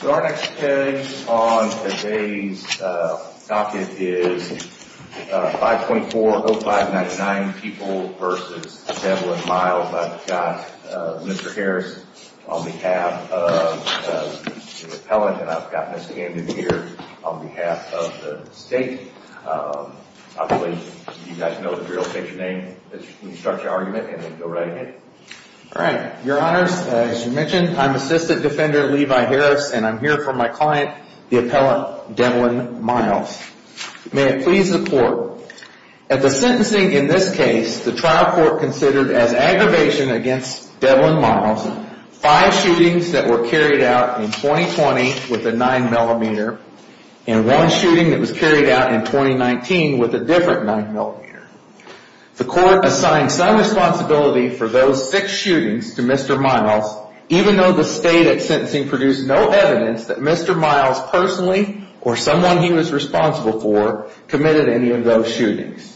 So our next case on today's docket is 524-0599, People v. Devlin Miles. I've got Mr. Harris on behalf of the appellant, and I've got Ms. Candon here on behalf of the state. I believe you guys know the real estate your name when you start your argument, and then go right ahead. All right, your honors, as you mentioned, I'm Assistant Defender Levi Harris, and I'm here for my client, the appellant Devlin Miles. May it please the court, at the sentencing in this case, the trial court considered as aggravation against Devlin Miles, five shootings that were carried out in 2020 with a 9mm, and one shooting that was carried out in 2019 with a different 9mm. The court assigned some responsibility for those six shootings to Mr. Miles, even though the state at sentencing produced no evidence that Mr. Miles personally or someone he was responsible for committed any of those shootings.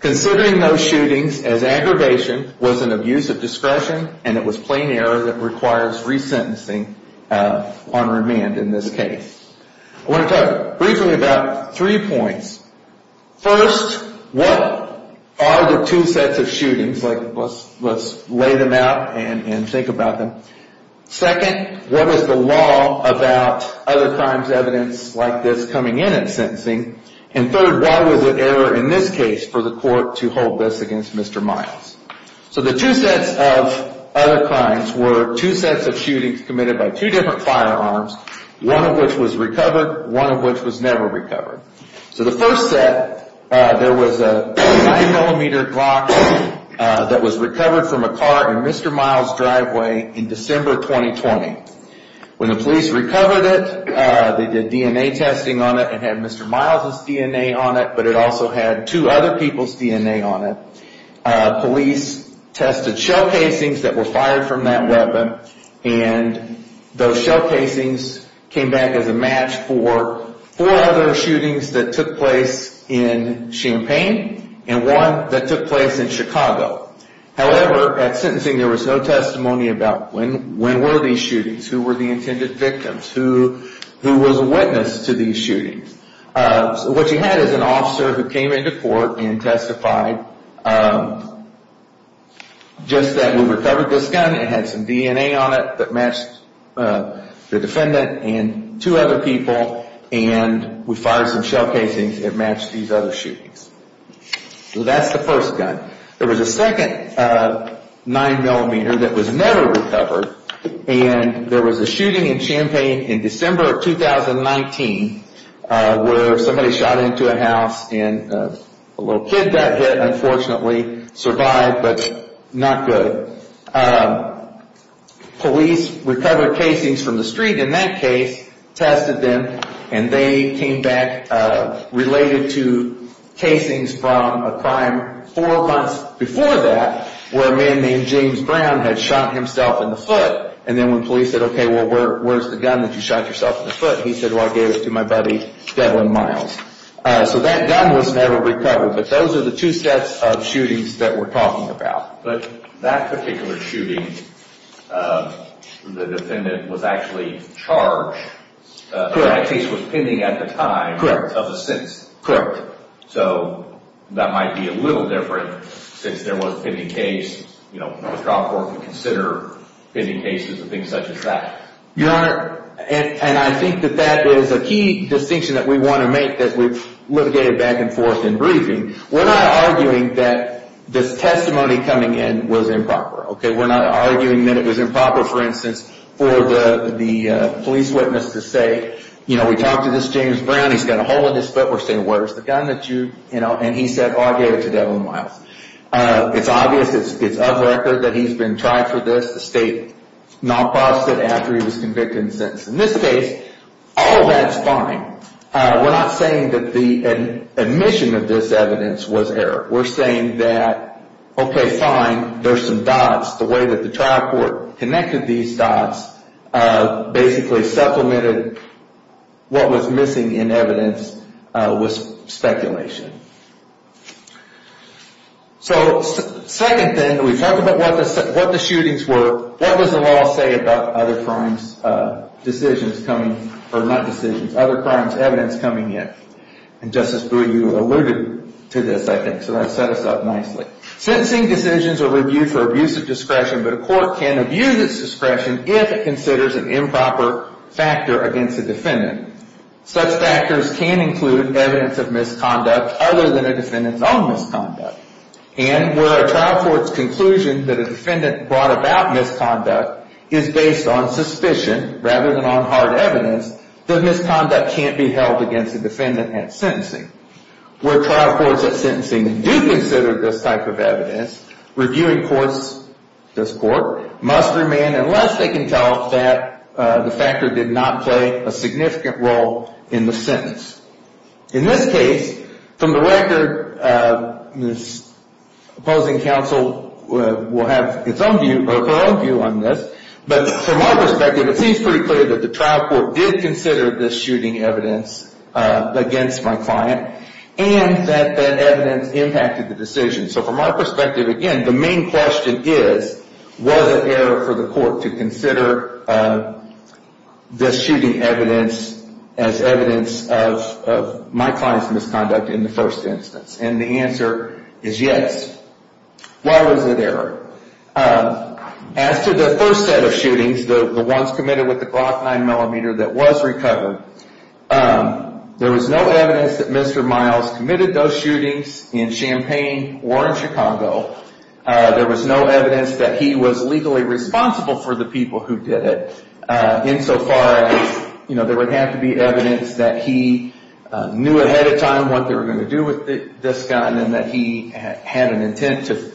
Considering those shootings as aggravation was an abuse of discretion, and it was plain error that requires resentencing on remand in this case. I want to talk briefly about three points. First, what are the two sets of shootings? Let's lay them out and think about them. Second, what was the law about other crimes evidence like this coming in at sentencing? And third, why was it error in this case for the court to hold this against Mr. Miles? So the two sets of other crimes were two sets of shootings committed by two different firearms, one of which was recovered, one of which was never recovered. So the first set, there was a 9mm Glock that was recovered from a car in Mr. Miles' driveway in December 2020. When the police recovered it, they did DNA testing on it and had Mr. Miles' DNA on it, but it also had two other people's DNA on it. Police tested shell casings that were fired from that weapon, and those shell casings came back as a match for four other shootings that took place in Champaign and one that took place in Chicago. However, at sentencing there was no testimony about when were these shootings, who were the intended victims, who was a witness to these shootings. So what you had is an officer who came into court and testified just that we recovered this gun, it had some DNA on it that matched the defendant and two other people, and we fired some shell casings that matched these other shootings. So that's the first gun. There was a second 9mm that was never recovered, and there was a shooting in Champaign in December of 2019 where somebody shot into a house and a little kid got hit and unfortunately survived, but not good. Police recovered casings from the street in that case, tested them, and they came back related to casings from a crime four months before that where a man named James Brown had shot himself in the foot. And then when police said, okay, well, where's the gun that you shot yourself in the foot? He said, well, I gave it to my buddy Devlin Miles. So that gun was never recovered, but those are the two sets of shootings that we're talking about. But that particular shooting, the defendant was actually charged. Correct. That case was pending at the time of the sentence. So that might be a little different since there was a pending case. You know, the trial court would consider pending cases and things such as that. Your Honor, and I think that that is a key distinction that we want to make that we've litigated back and forth in briefing. We're not arguing that this testimony coming in was improper, okay? We're not arguing that it was improper, for instance, for the police witness to say, you know, we talked to this James Brown. He's got a hole in his foot. We're saying, where's the gun that you, you know, and he said, oh, I gave it to Devlin Miles. It's obvious, it's of record that he's been tried for this. The state not processed it after he was convicted and sentenced. In this case, all that's fine. We're not saying that the admission of this evidence was error. We're saying that, okay, fine, there's some dots. The way that the trial court connected these dots basically supplemented what was missing in evidence was speculation. So, second thing, we talked about what the shootings were. What does the law say about other crimes decisions coming, or not decisions, other crimes evidence coming in? And Justice Brewer, you alluded to this, I think, so that set us up nicely. Sentencing decisions are reviewed for abuse of discretion, but a court can abuse its discretion if it considers an improper factor against a defendant. Such factors can include evidence of misconduct other than a defendant's own misconduct. And where a trial court's conclusion that a defendant brought about misconduct is based on suspicion rather than on hard evidence, the misconduct can't be held against a defendant at sentencing. Where trial courts at sentencing do consider this type of evidence, reviewing courts, this court, must remain unless they can tell that the factor did not play a significant role in the sentence. In this case, from the record, this opposing counsel will have its own view, or her own view on this, but from our perspective, it seems pretty clear that the trial court did consider this shooting evidence against my client, and that that evidence impacted the decision. So from our perspective, again, the main question is, was it error for the court to consider this shooting evidence as evidence of my client's misconduct in the first instance? And the answer is yes. Why was it error? As to the first set of shootings, the ones committed with the Glock 9mm that was recovered, there was no evidence that Mr. Miles committed those shootings in Champaign or in Chicago. There was no evidence that he was legally responsible for the people who did it, insofar as there would have to be evidence that he knew ahead of time what they were going to do with this gun and that he had an intent to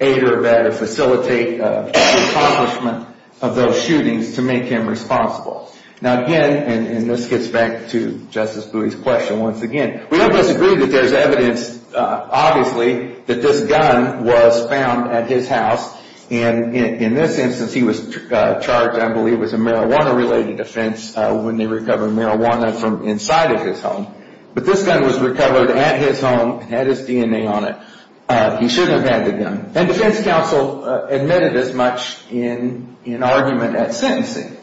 aid or facilitate the accomplishment of those shootings to make him responsible. Now, again, and this gets back to Justice Bowie's question once again, we all disagree that there's evidence, obviously, that this gun was found at his house, and in this instance, he was charged, I believe, with a marijuana-related offense when they recovered marijuana from inside of his home. But this gun was recovered at his home and had his DNA on it. He shouldn't have had the gun. And defense counsel admitted as much in argument at sentencing.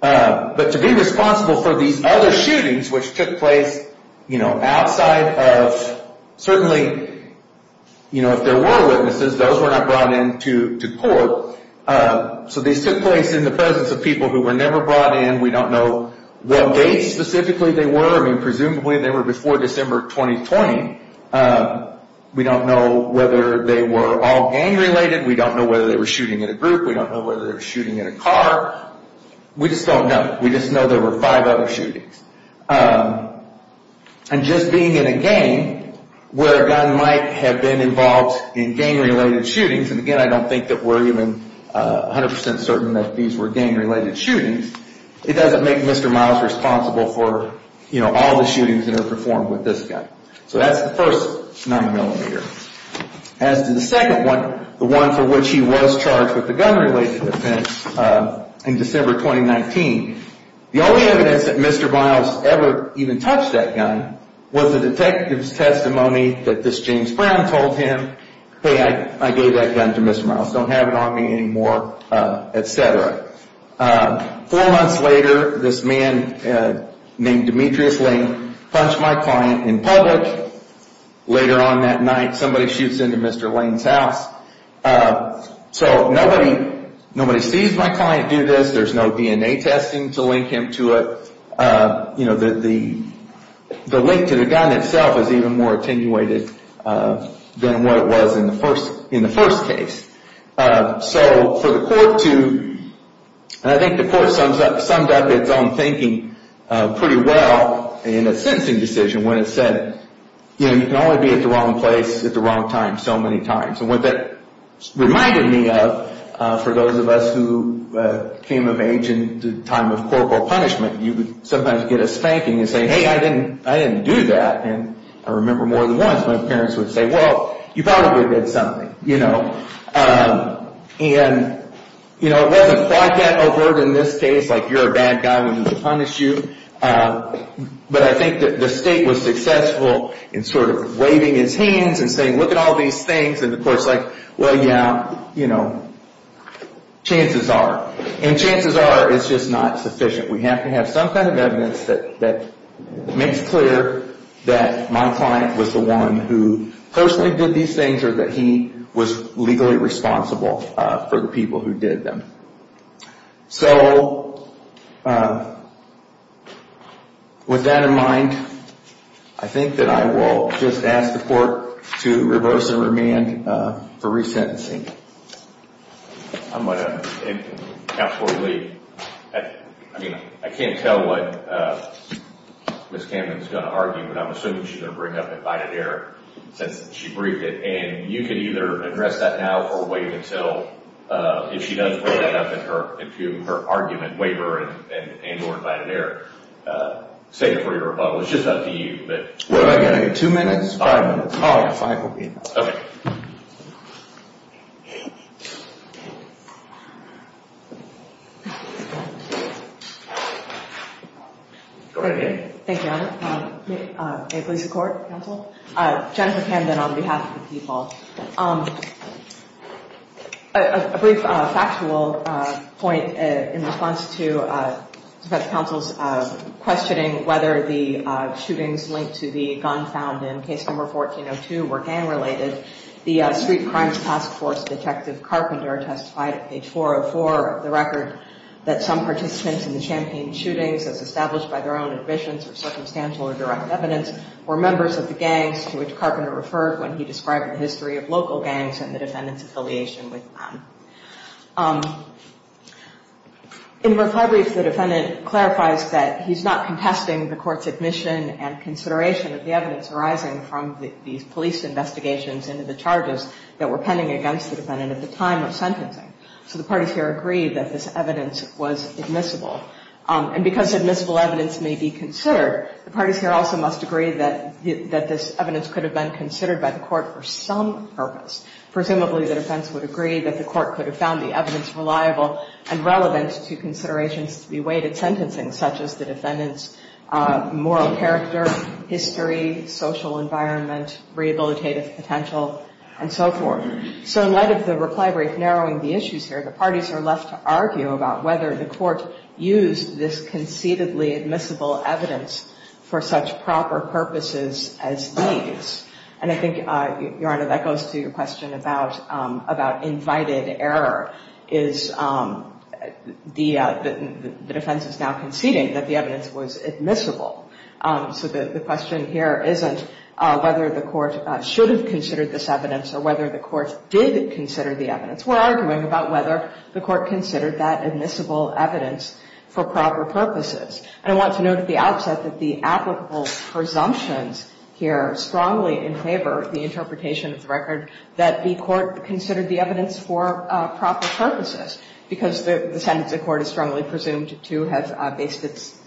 But to be responsible for these other shootings, which took place outside of, certainly, if there were witnesses, those were not brought into court. So these took place in the presence of people who were never brought in. We don't know what date specifically they were. I mean, presumably, they were before December 2020. We don't know whether they were all gang-related. We don't know whether they were shooting in a group. We don't know whether they were shooting in a car. We just don't know. We just know there were five other shootings. And just being in a gang where a gun might have been involved in gang-related shootings, and, again, I don't think that we're even 100% certain that these were gang-related shootings, it doesn't make Mr. Miles responsible for, you know, all the shootings that are performed with this gun. So that's the first 9-millimeter. As to the second one, the one for which he was charged with the gun-related offense in December 2019, the only evidence that Mr. Miles ever even touched that gun was the detective's testimony that this James Brown told him, hey, I gave that gun to Mr. Miles. Don't have it on me anymore, et cetera. Four months later, this man named Demetrius Lane punched my client in public. Later on that night, somebody shoots into Mr. Lane's house. So nobody sees my client do this. There's no DNA testing to link him to it. You know, the link to the gun itself is even more attenuated than what it was in the first case. So for the court to, and I think the court summed up its own thinking pretty well in a sentencing decision when it said, you know, you can only be at the wrong place at the wrong time so many times. And what that reminded me of, for those of us who came of age in the time of corporal punishment, you would sometimes get a spanking and say, hey, I didn't do that. And I remember more than once my parents would say, well, you probably did something, you know. And, you know, it wasn't quite that overt in this case, like you're a bad guy, we're going to punish you. But I think that the state was successful in sort of waving its hands and saying, look at all these things. And the court's like, well, yeah, you know, chances are. And chances are it's just not sufficient. We have to have some kind of evidence that makes clear that my client was the one who personally did these things or that he was legally responsible for the people who did them. So with that in mind, I think that I will just ask the court to reverse and remand for resentencing. I'm going to, and Counselor Lee, I mean, I can't tell what Ms. Camden's going to argue, but I'm assuming she's going to bring up invited error since she briefed it. And you can either address that now or wait until, if she does bring that up in her argument, waiver and or invited error, save it for your rebuttal. It's just up to you. What am I getting, two minutes? Five minutes. Five will be enough. Okay. Go right ahead. Thank you, Your Honor. May it please the Court, Counsel? Jennifer Camden on behalf of the people. A brief factual point in response to Defense Counsel's questioning whether the shootings linked to the gun found in Case No. 14-02 were gang-related. The Street Crimes Task Force Detective Carpenter testified at page 404 of the record that some participants in the Champaign shootings, as established by their own admissions or circumstantial or direct evidence, were members of the gangs to which Carpenter referred when he described the history of local gangs and the defendant's affiliation with them. In the reply brief, the defendant clarifies that he's not contesting the court's admission and consideration of the evidence arising from these police investigations into the charges that were pending against the defendant at the time of sentencing. So the parties here agree that this evidence was admissible. And because admissible evidence may be considered, the parties here also must agree that this evidence could have been considered by the court for some purpose. Presumably, the defense would agree that the court could have found the evidence reliable and relevant to considerations to be weighed at sentencing, such as the defendant's moral character, history, social environment, rehabilitative potential, and so forth. So in light of the reply brief narrowing the issues here, the parties are left to argue about whether the court used this conceitedly admissible evidence for such proper purposes as these. And I think, Your Honor, that goes to your question about invited error. The defense is now conceding that the evidence was admissible. So the question here isn't whether the court should have considered this evidence or whether the court did consider the evidence. We're arguing about whether the court considered that admissible evidence for proper purposes. And I want to note at the outset that the applicable presumptions here strongly in favor of the interpretation of the record that the court considered the evidence for proper purposes, because the sentence the court is strongly presumed to have based its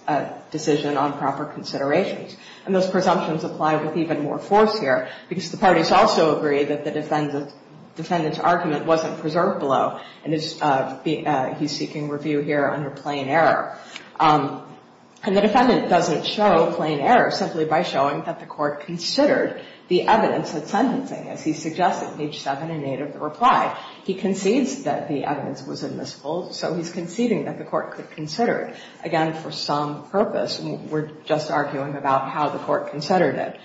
decision on proper considerations. And those presumptions apply with even more force here, because the parties also agree that the defendant's argument wasn't preserved below, and he's seeking review here under plain error. And the defendant doesn't show plain error simply by showing that the court considered the evidence at sentencing, as he suggests at page 7 and 8 of the reply. He concedes that the evidence was admissible, so he's conceding that the court could consider it, again, for some purpose. And we're just arguing about how the court considered it.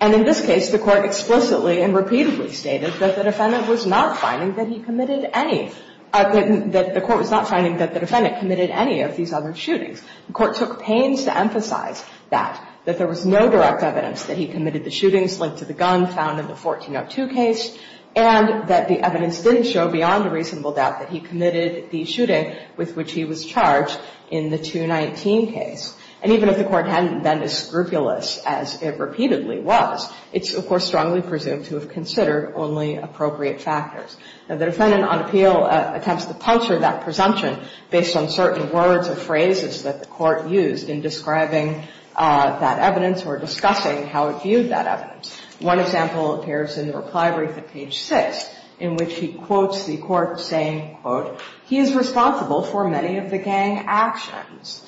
And in this case, the court explicitly and repeatedly stated that the defendant was not finding that he committed any of the – that the court was not finding that the defendant committed any of these other shootings. The court took pains to emphasize that, that there was no direct evidence that he committed the shootings linked to the gun found in the 1402 case, and that the evidence didn't show beyond a reasonable doubt that he committed the shooting with which he was charged in the 219 case. And even if the court hadn't been as scrupulous as it repeatedly was, it's, of course, strongly presumed to have considered only appropriate factors. Now, the defendant on appeal attempts to puncture that presumption based on certain words or phrases that the court used in describing that evidence or discussing how it viewed that evidence. One example appears in the reply brief at page 6, in which he quotes the court saying, quote, he is responsible for many of the gang actions.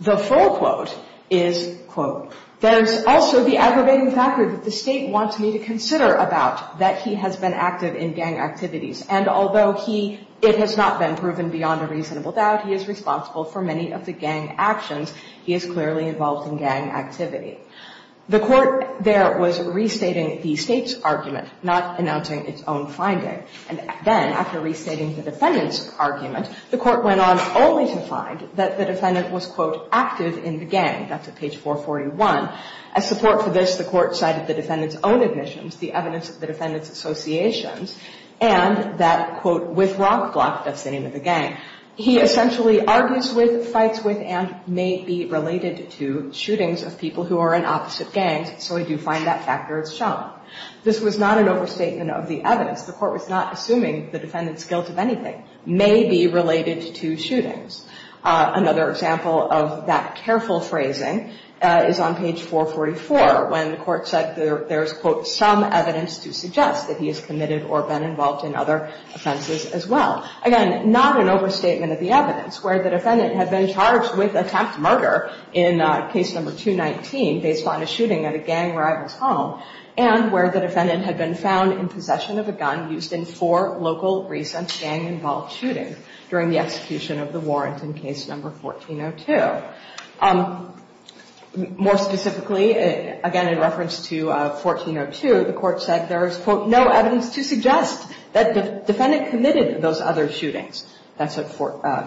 The full quote is, quote, there's also the aggravating factor that the State wants me to consider about that he has been active in gang activities. And although he – it has not been proven beyond a reasonable doubt he is responsible for many of the gang actions, he is clearly involved in gang activity. The court there was restating the State's argument, not announcing its own finding. And then, after restating the defendant's argument, the court went on only to find that the defendant was, quote, active in the gang. That's at page 441. As support for this, the court cited the defendant's own admissions, the evidence of the defendant's associations, and that, quote, with rock, block, that's the name of the gang. He essentially argues with, fights with, and may be related to shootings of people who are in opposite gangs. So we do find that factor is shown. This was not an overstatement of the evidence. The court was not assuming the defendant's guilt of anything. May be related to shootings. Another example of that careful phrasing is on page 444, when the court said there's, quote, some evidence to suggest that he has committed or been involved in other offenses as well. Again, not an overstatement of the evidence, where the defendant had been charged with attempted murder in case number 219, based on a shooting at a gang rival's home, and where the defendant had been found in possession of a gun used in four local recent gang-involved shootings during the execution of the warrant in case number 1402. More specifically, again, in reference to 1402, the court said there is, quote, no evidence to suggest that the defendant committed those other shootings. That's at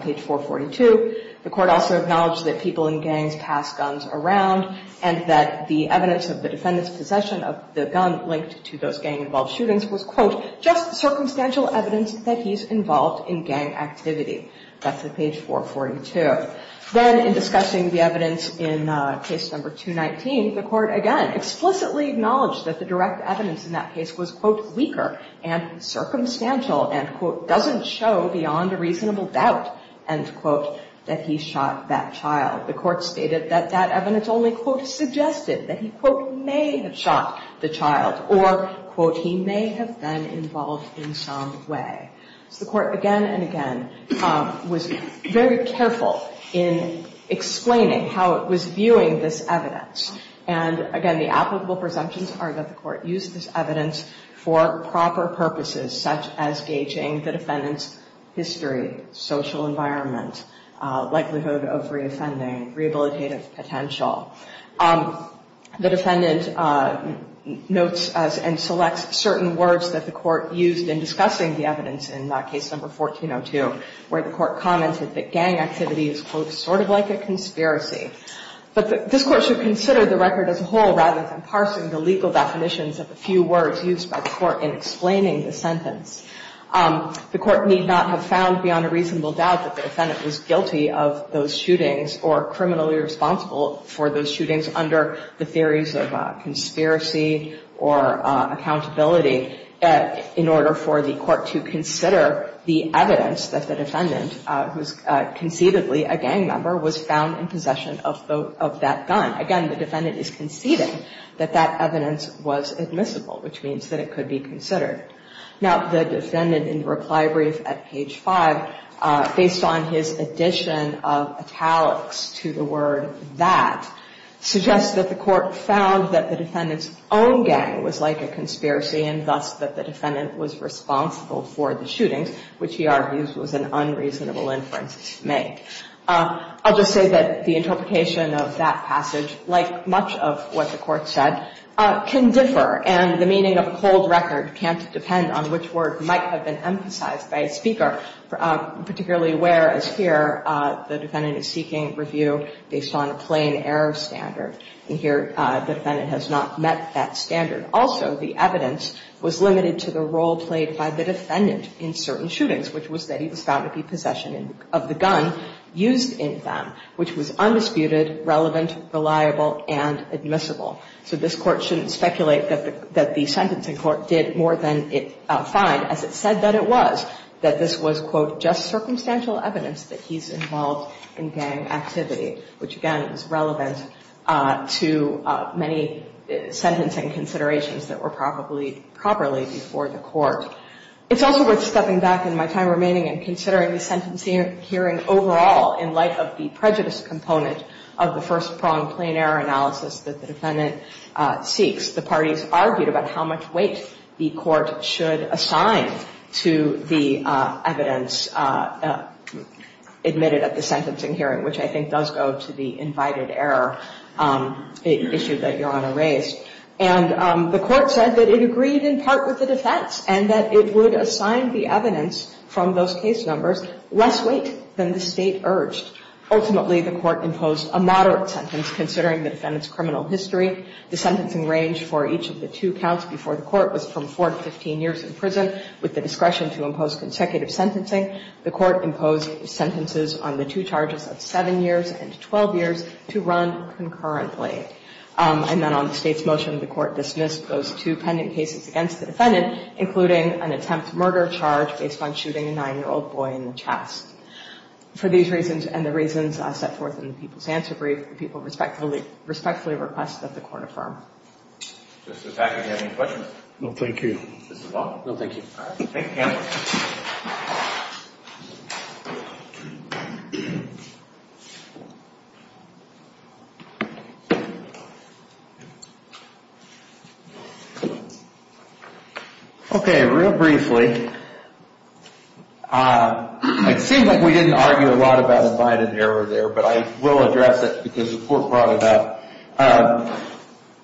page 442. The court also acknowledged that people in gangs pass guns around and that the evidence of the defendant's possession of the gun linked to those gang-involved shootings was, quote, just circumstantial evidence that he's involved in gang activity. That's at page 442. Then, in discussing the evidence in case number 219, the court again explicitly acknowledged that the direct evidence in that case was, quote, weaker and circumstantial and, quote, doesn't show beyond a reasonable doubt, end quote, that he shot that child. The court stated that that evidence only, quote, suggested that he, quote, may have shot the child or, quote, he may have been involved in some way. So the court again and again was very careful in explaining how it was viewing this evidence. And, again, the applicable presumptions are that the court used this evidence for proper purposes, such as gauging the defendant's history, social environment, likelihood of reoffending, rehabilitative potential. The defendant notes and selects certain words that the court used in discussing the evidence in case number 1402, where the court commented that gang activity is, quote, sort of like a conspiracy. But this court should consider the record as a whole rather than parsing the legal definitions of a few words used by the court in explaining the sentence. The court need not have found beyond a reasonable doubt that the defendant was guilty of those shootings or criminally responsible for those shootings under the theories of conspiracy or accountability in order for the court to consider the evidence that the defendant, who is conceivably a gang member, was found in possession of that gun. Again, the defendant is conceding that that evidence was admissible, which means that it could be considered. Now, the defendant in the reply brief at page five, based on his addition of italics to the word that, suggests that the court found that the defendant's own gang was like a conspiracy and thus that the defendant was responsible for the shootings, which he argues was an unreasonable inference to make. I'll just say that the interpretation of that passage, like much of what the defendant is seeking review based on a plain error standard, and here the defendant has not met that standard. Also, the evidence was limited to the role played by the defendant in certain shootings, which was that he was found to be in possession of the gun used in them, which was undisputed, relevant, reliable, and admissible. So this Court shouldn't speculate that the sentencing court did more than its said that it was, that this was, quote, just circumstantial evidence that he's involved in gang activity, which, again, is relevant to many sentencing considerations that were probably properly before the court. It's also worth stepping back in my time remaining and considering the sentencing hearing overall in light of the prejudice component of the first prong plain error analysis that the defendant seeks. The parties argued about how much weight the court should assign to the evidence admitted at the sentencing hearing, which I think does go to the invited error issue that Your Honor raised. And the court said that it agreed in part with the defense and that it would assign the evidence from those case numbers less weight than the State urged. Ultimately, the court imposed a moderate sentence considering the defendant's criminal history. The sentencing range for each of the two counts before the court was from 4 to 15 years in prison with the discretion to impose consecutive sentencing. The court imposed sentences on the two charges of 7 years and 12 years to run concurrently. And then on the State's motion, the court dismissed those two pending cases against the defendant, including an attempt to murder charge based on shooting a 9-year-old boy in the chest. For these reasons and the reasons set forth in the People's Answer Brief, the people respectfully request that the court affirm. Justice Packard, do you have any questions? No, thank you. Justice Long? No, thank you. All right. Thank you, counsel. Okay. Real briefly, it seemed like we didn't argue a lot about invited error there, but I will address it because the court brought it up.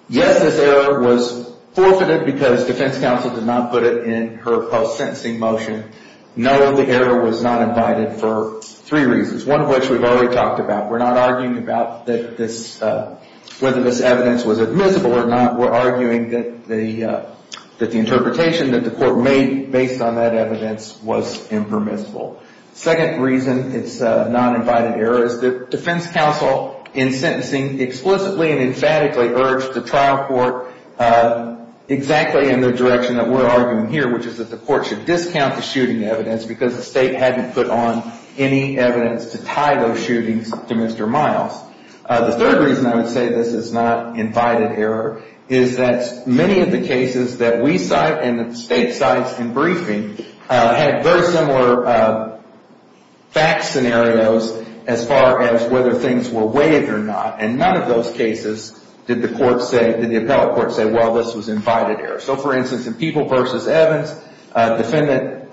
Yes, this error was forfeited because defense counsel did not put it in her post-sentencing motion. No, the error was not invited for three reasons, one of which we've already talked about. We're not arguing about whether this evidence was admissible or not. We're arguing that the interpretation that the court made based on that evidence was impermissible. Second reason it's not invited error is that defense counsel in sentencing explicitly and emphatically urged the trial court exactly in the direction that we're arguing here, which is that the court should discount the shooting evidence because the state hadn't put on any evidence to tie those shootings to Mr. Miles. The third reason I would say this is not invited error is that many of the cases that we cite and that the state cites in briefing had very similar fact scenarios as far as whether things were waived or not, and none of those cases did the appellate court say, well, this was invited error. So, for instance, in People v. Evans, a defendant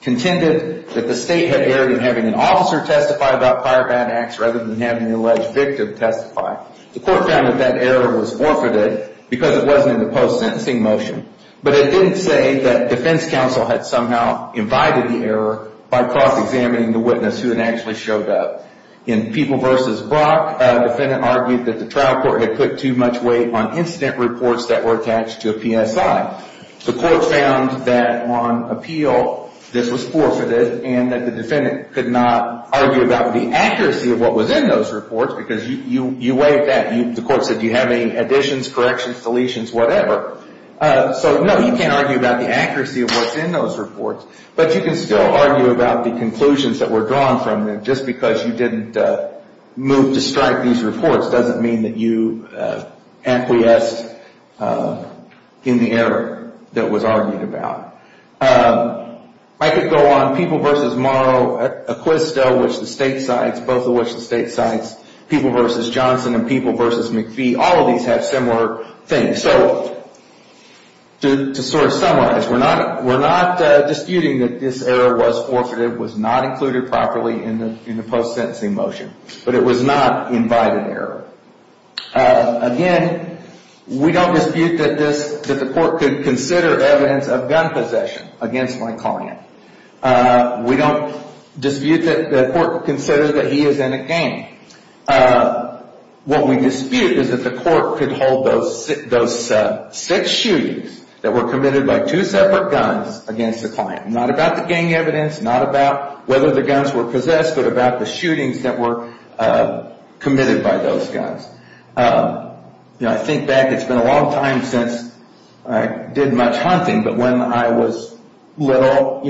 contended that the state had erred in having an officer testify about prior bad acts rather than having the alleged victim testify. The court found that that error was forfeited because it wasn't in the post-sentencing motion, but it didn't say that defense counsel had somehow invited the error by cross-examining the witness who had actually showed up. In People v. Brock, a defendant argued that the trial court had put too much weight on incident reports that were attached to a PSI. The court found that on appeal this was forfeited and that the defendant could not argue about the accuracy of what was in those reports because you waived that. The court said, do you have any additions, corrections, deletions, whatever. So, no, you can't argue about the accuracy of what's in those reports, but you can still argue about the conclusions that were drawn from them. Just because you didn't move to strike these reports doesn't mean that you acquiesced in the error that was argued about. I could go on. People v. Morrow, Acquisto, which the state cites, both of which the state cites, People v. Johnson and People v. McPhee, all of these have similar things. So, to sort of summarize, we're not disputing that this error was forfeited, was not included properly in the post-sentencing motion, but it was not invited error. Again, we don't dispute that the court could consider evidence of gun possession against my client. We don't dispute that the court considers that he is in a gang. What we dispute is that the court could hold those six shootings that were committed by two separate guns against the client. Not about the gang evidence, not about whether the guns were possessed, but about the shootings that were committed by those guns. I think back, it's been a long time since I did much hunting, but when I was little,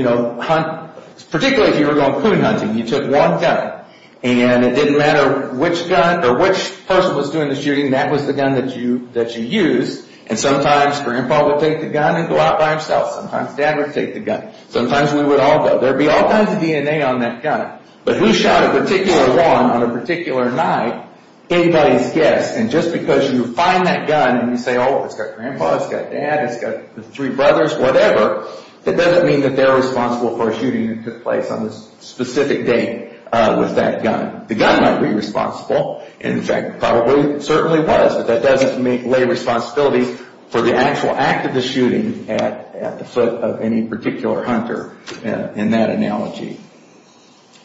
particularly if you were going clone hunting, you took one gun and it didn't matter which gun or which person was doing the shooting, that was the gun that you used. And sometimes Grandpa would take the gun and go out by himself. Sometimes Dad would take the gun. Sometimes we would all go. There would be all kinds of DNA on that gun. But who shot a particular one on a particular night? Anybody's guess. And just because you find that gun and you say, oh, it's got Grandpa, it's got Dad, it's got the three brothers, whatever, that doesn't mean that they're responsible for a shooting that took place on a specific date with that gun. The gun might be responsible, and in fact probably certainly was, but that doesn't lay responsibilities for the actual act of the shooting at the foot of any particular hunter in that analogy.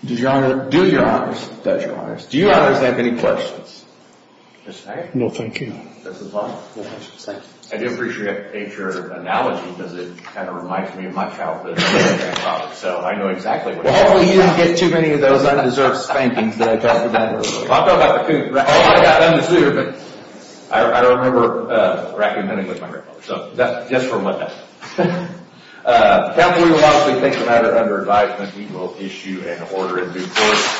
Does Your Honor? Do Your Honors. Does Your Honors. Do Your Honors have any questions? No, thank you. I do appreciate your analogy because it kind of reminds me of my childhood. So I know exactly what you're talking about. Well, hopefully you didn't get too many of those undeserved spankings that I talked about earlier. Oh, I got them this year, but I don't remember raccoon hunting with my grandfather. So just for what that is. Counsel, we will obviously take the matter under advisement. We will issue an order in due course.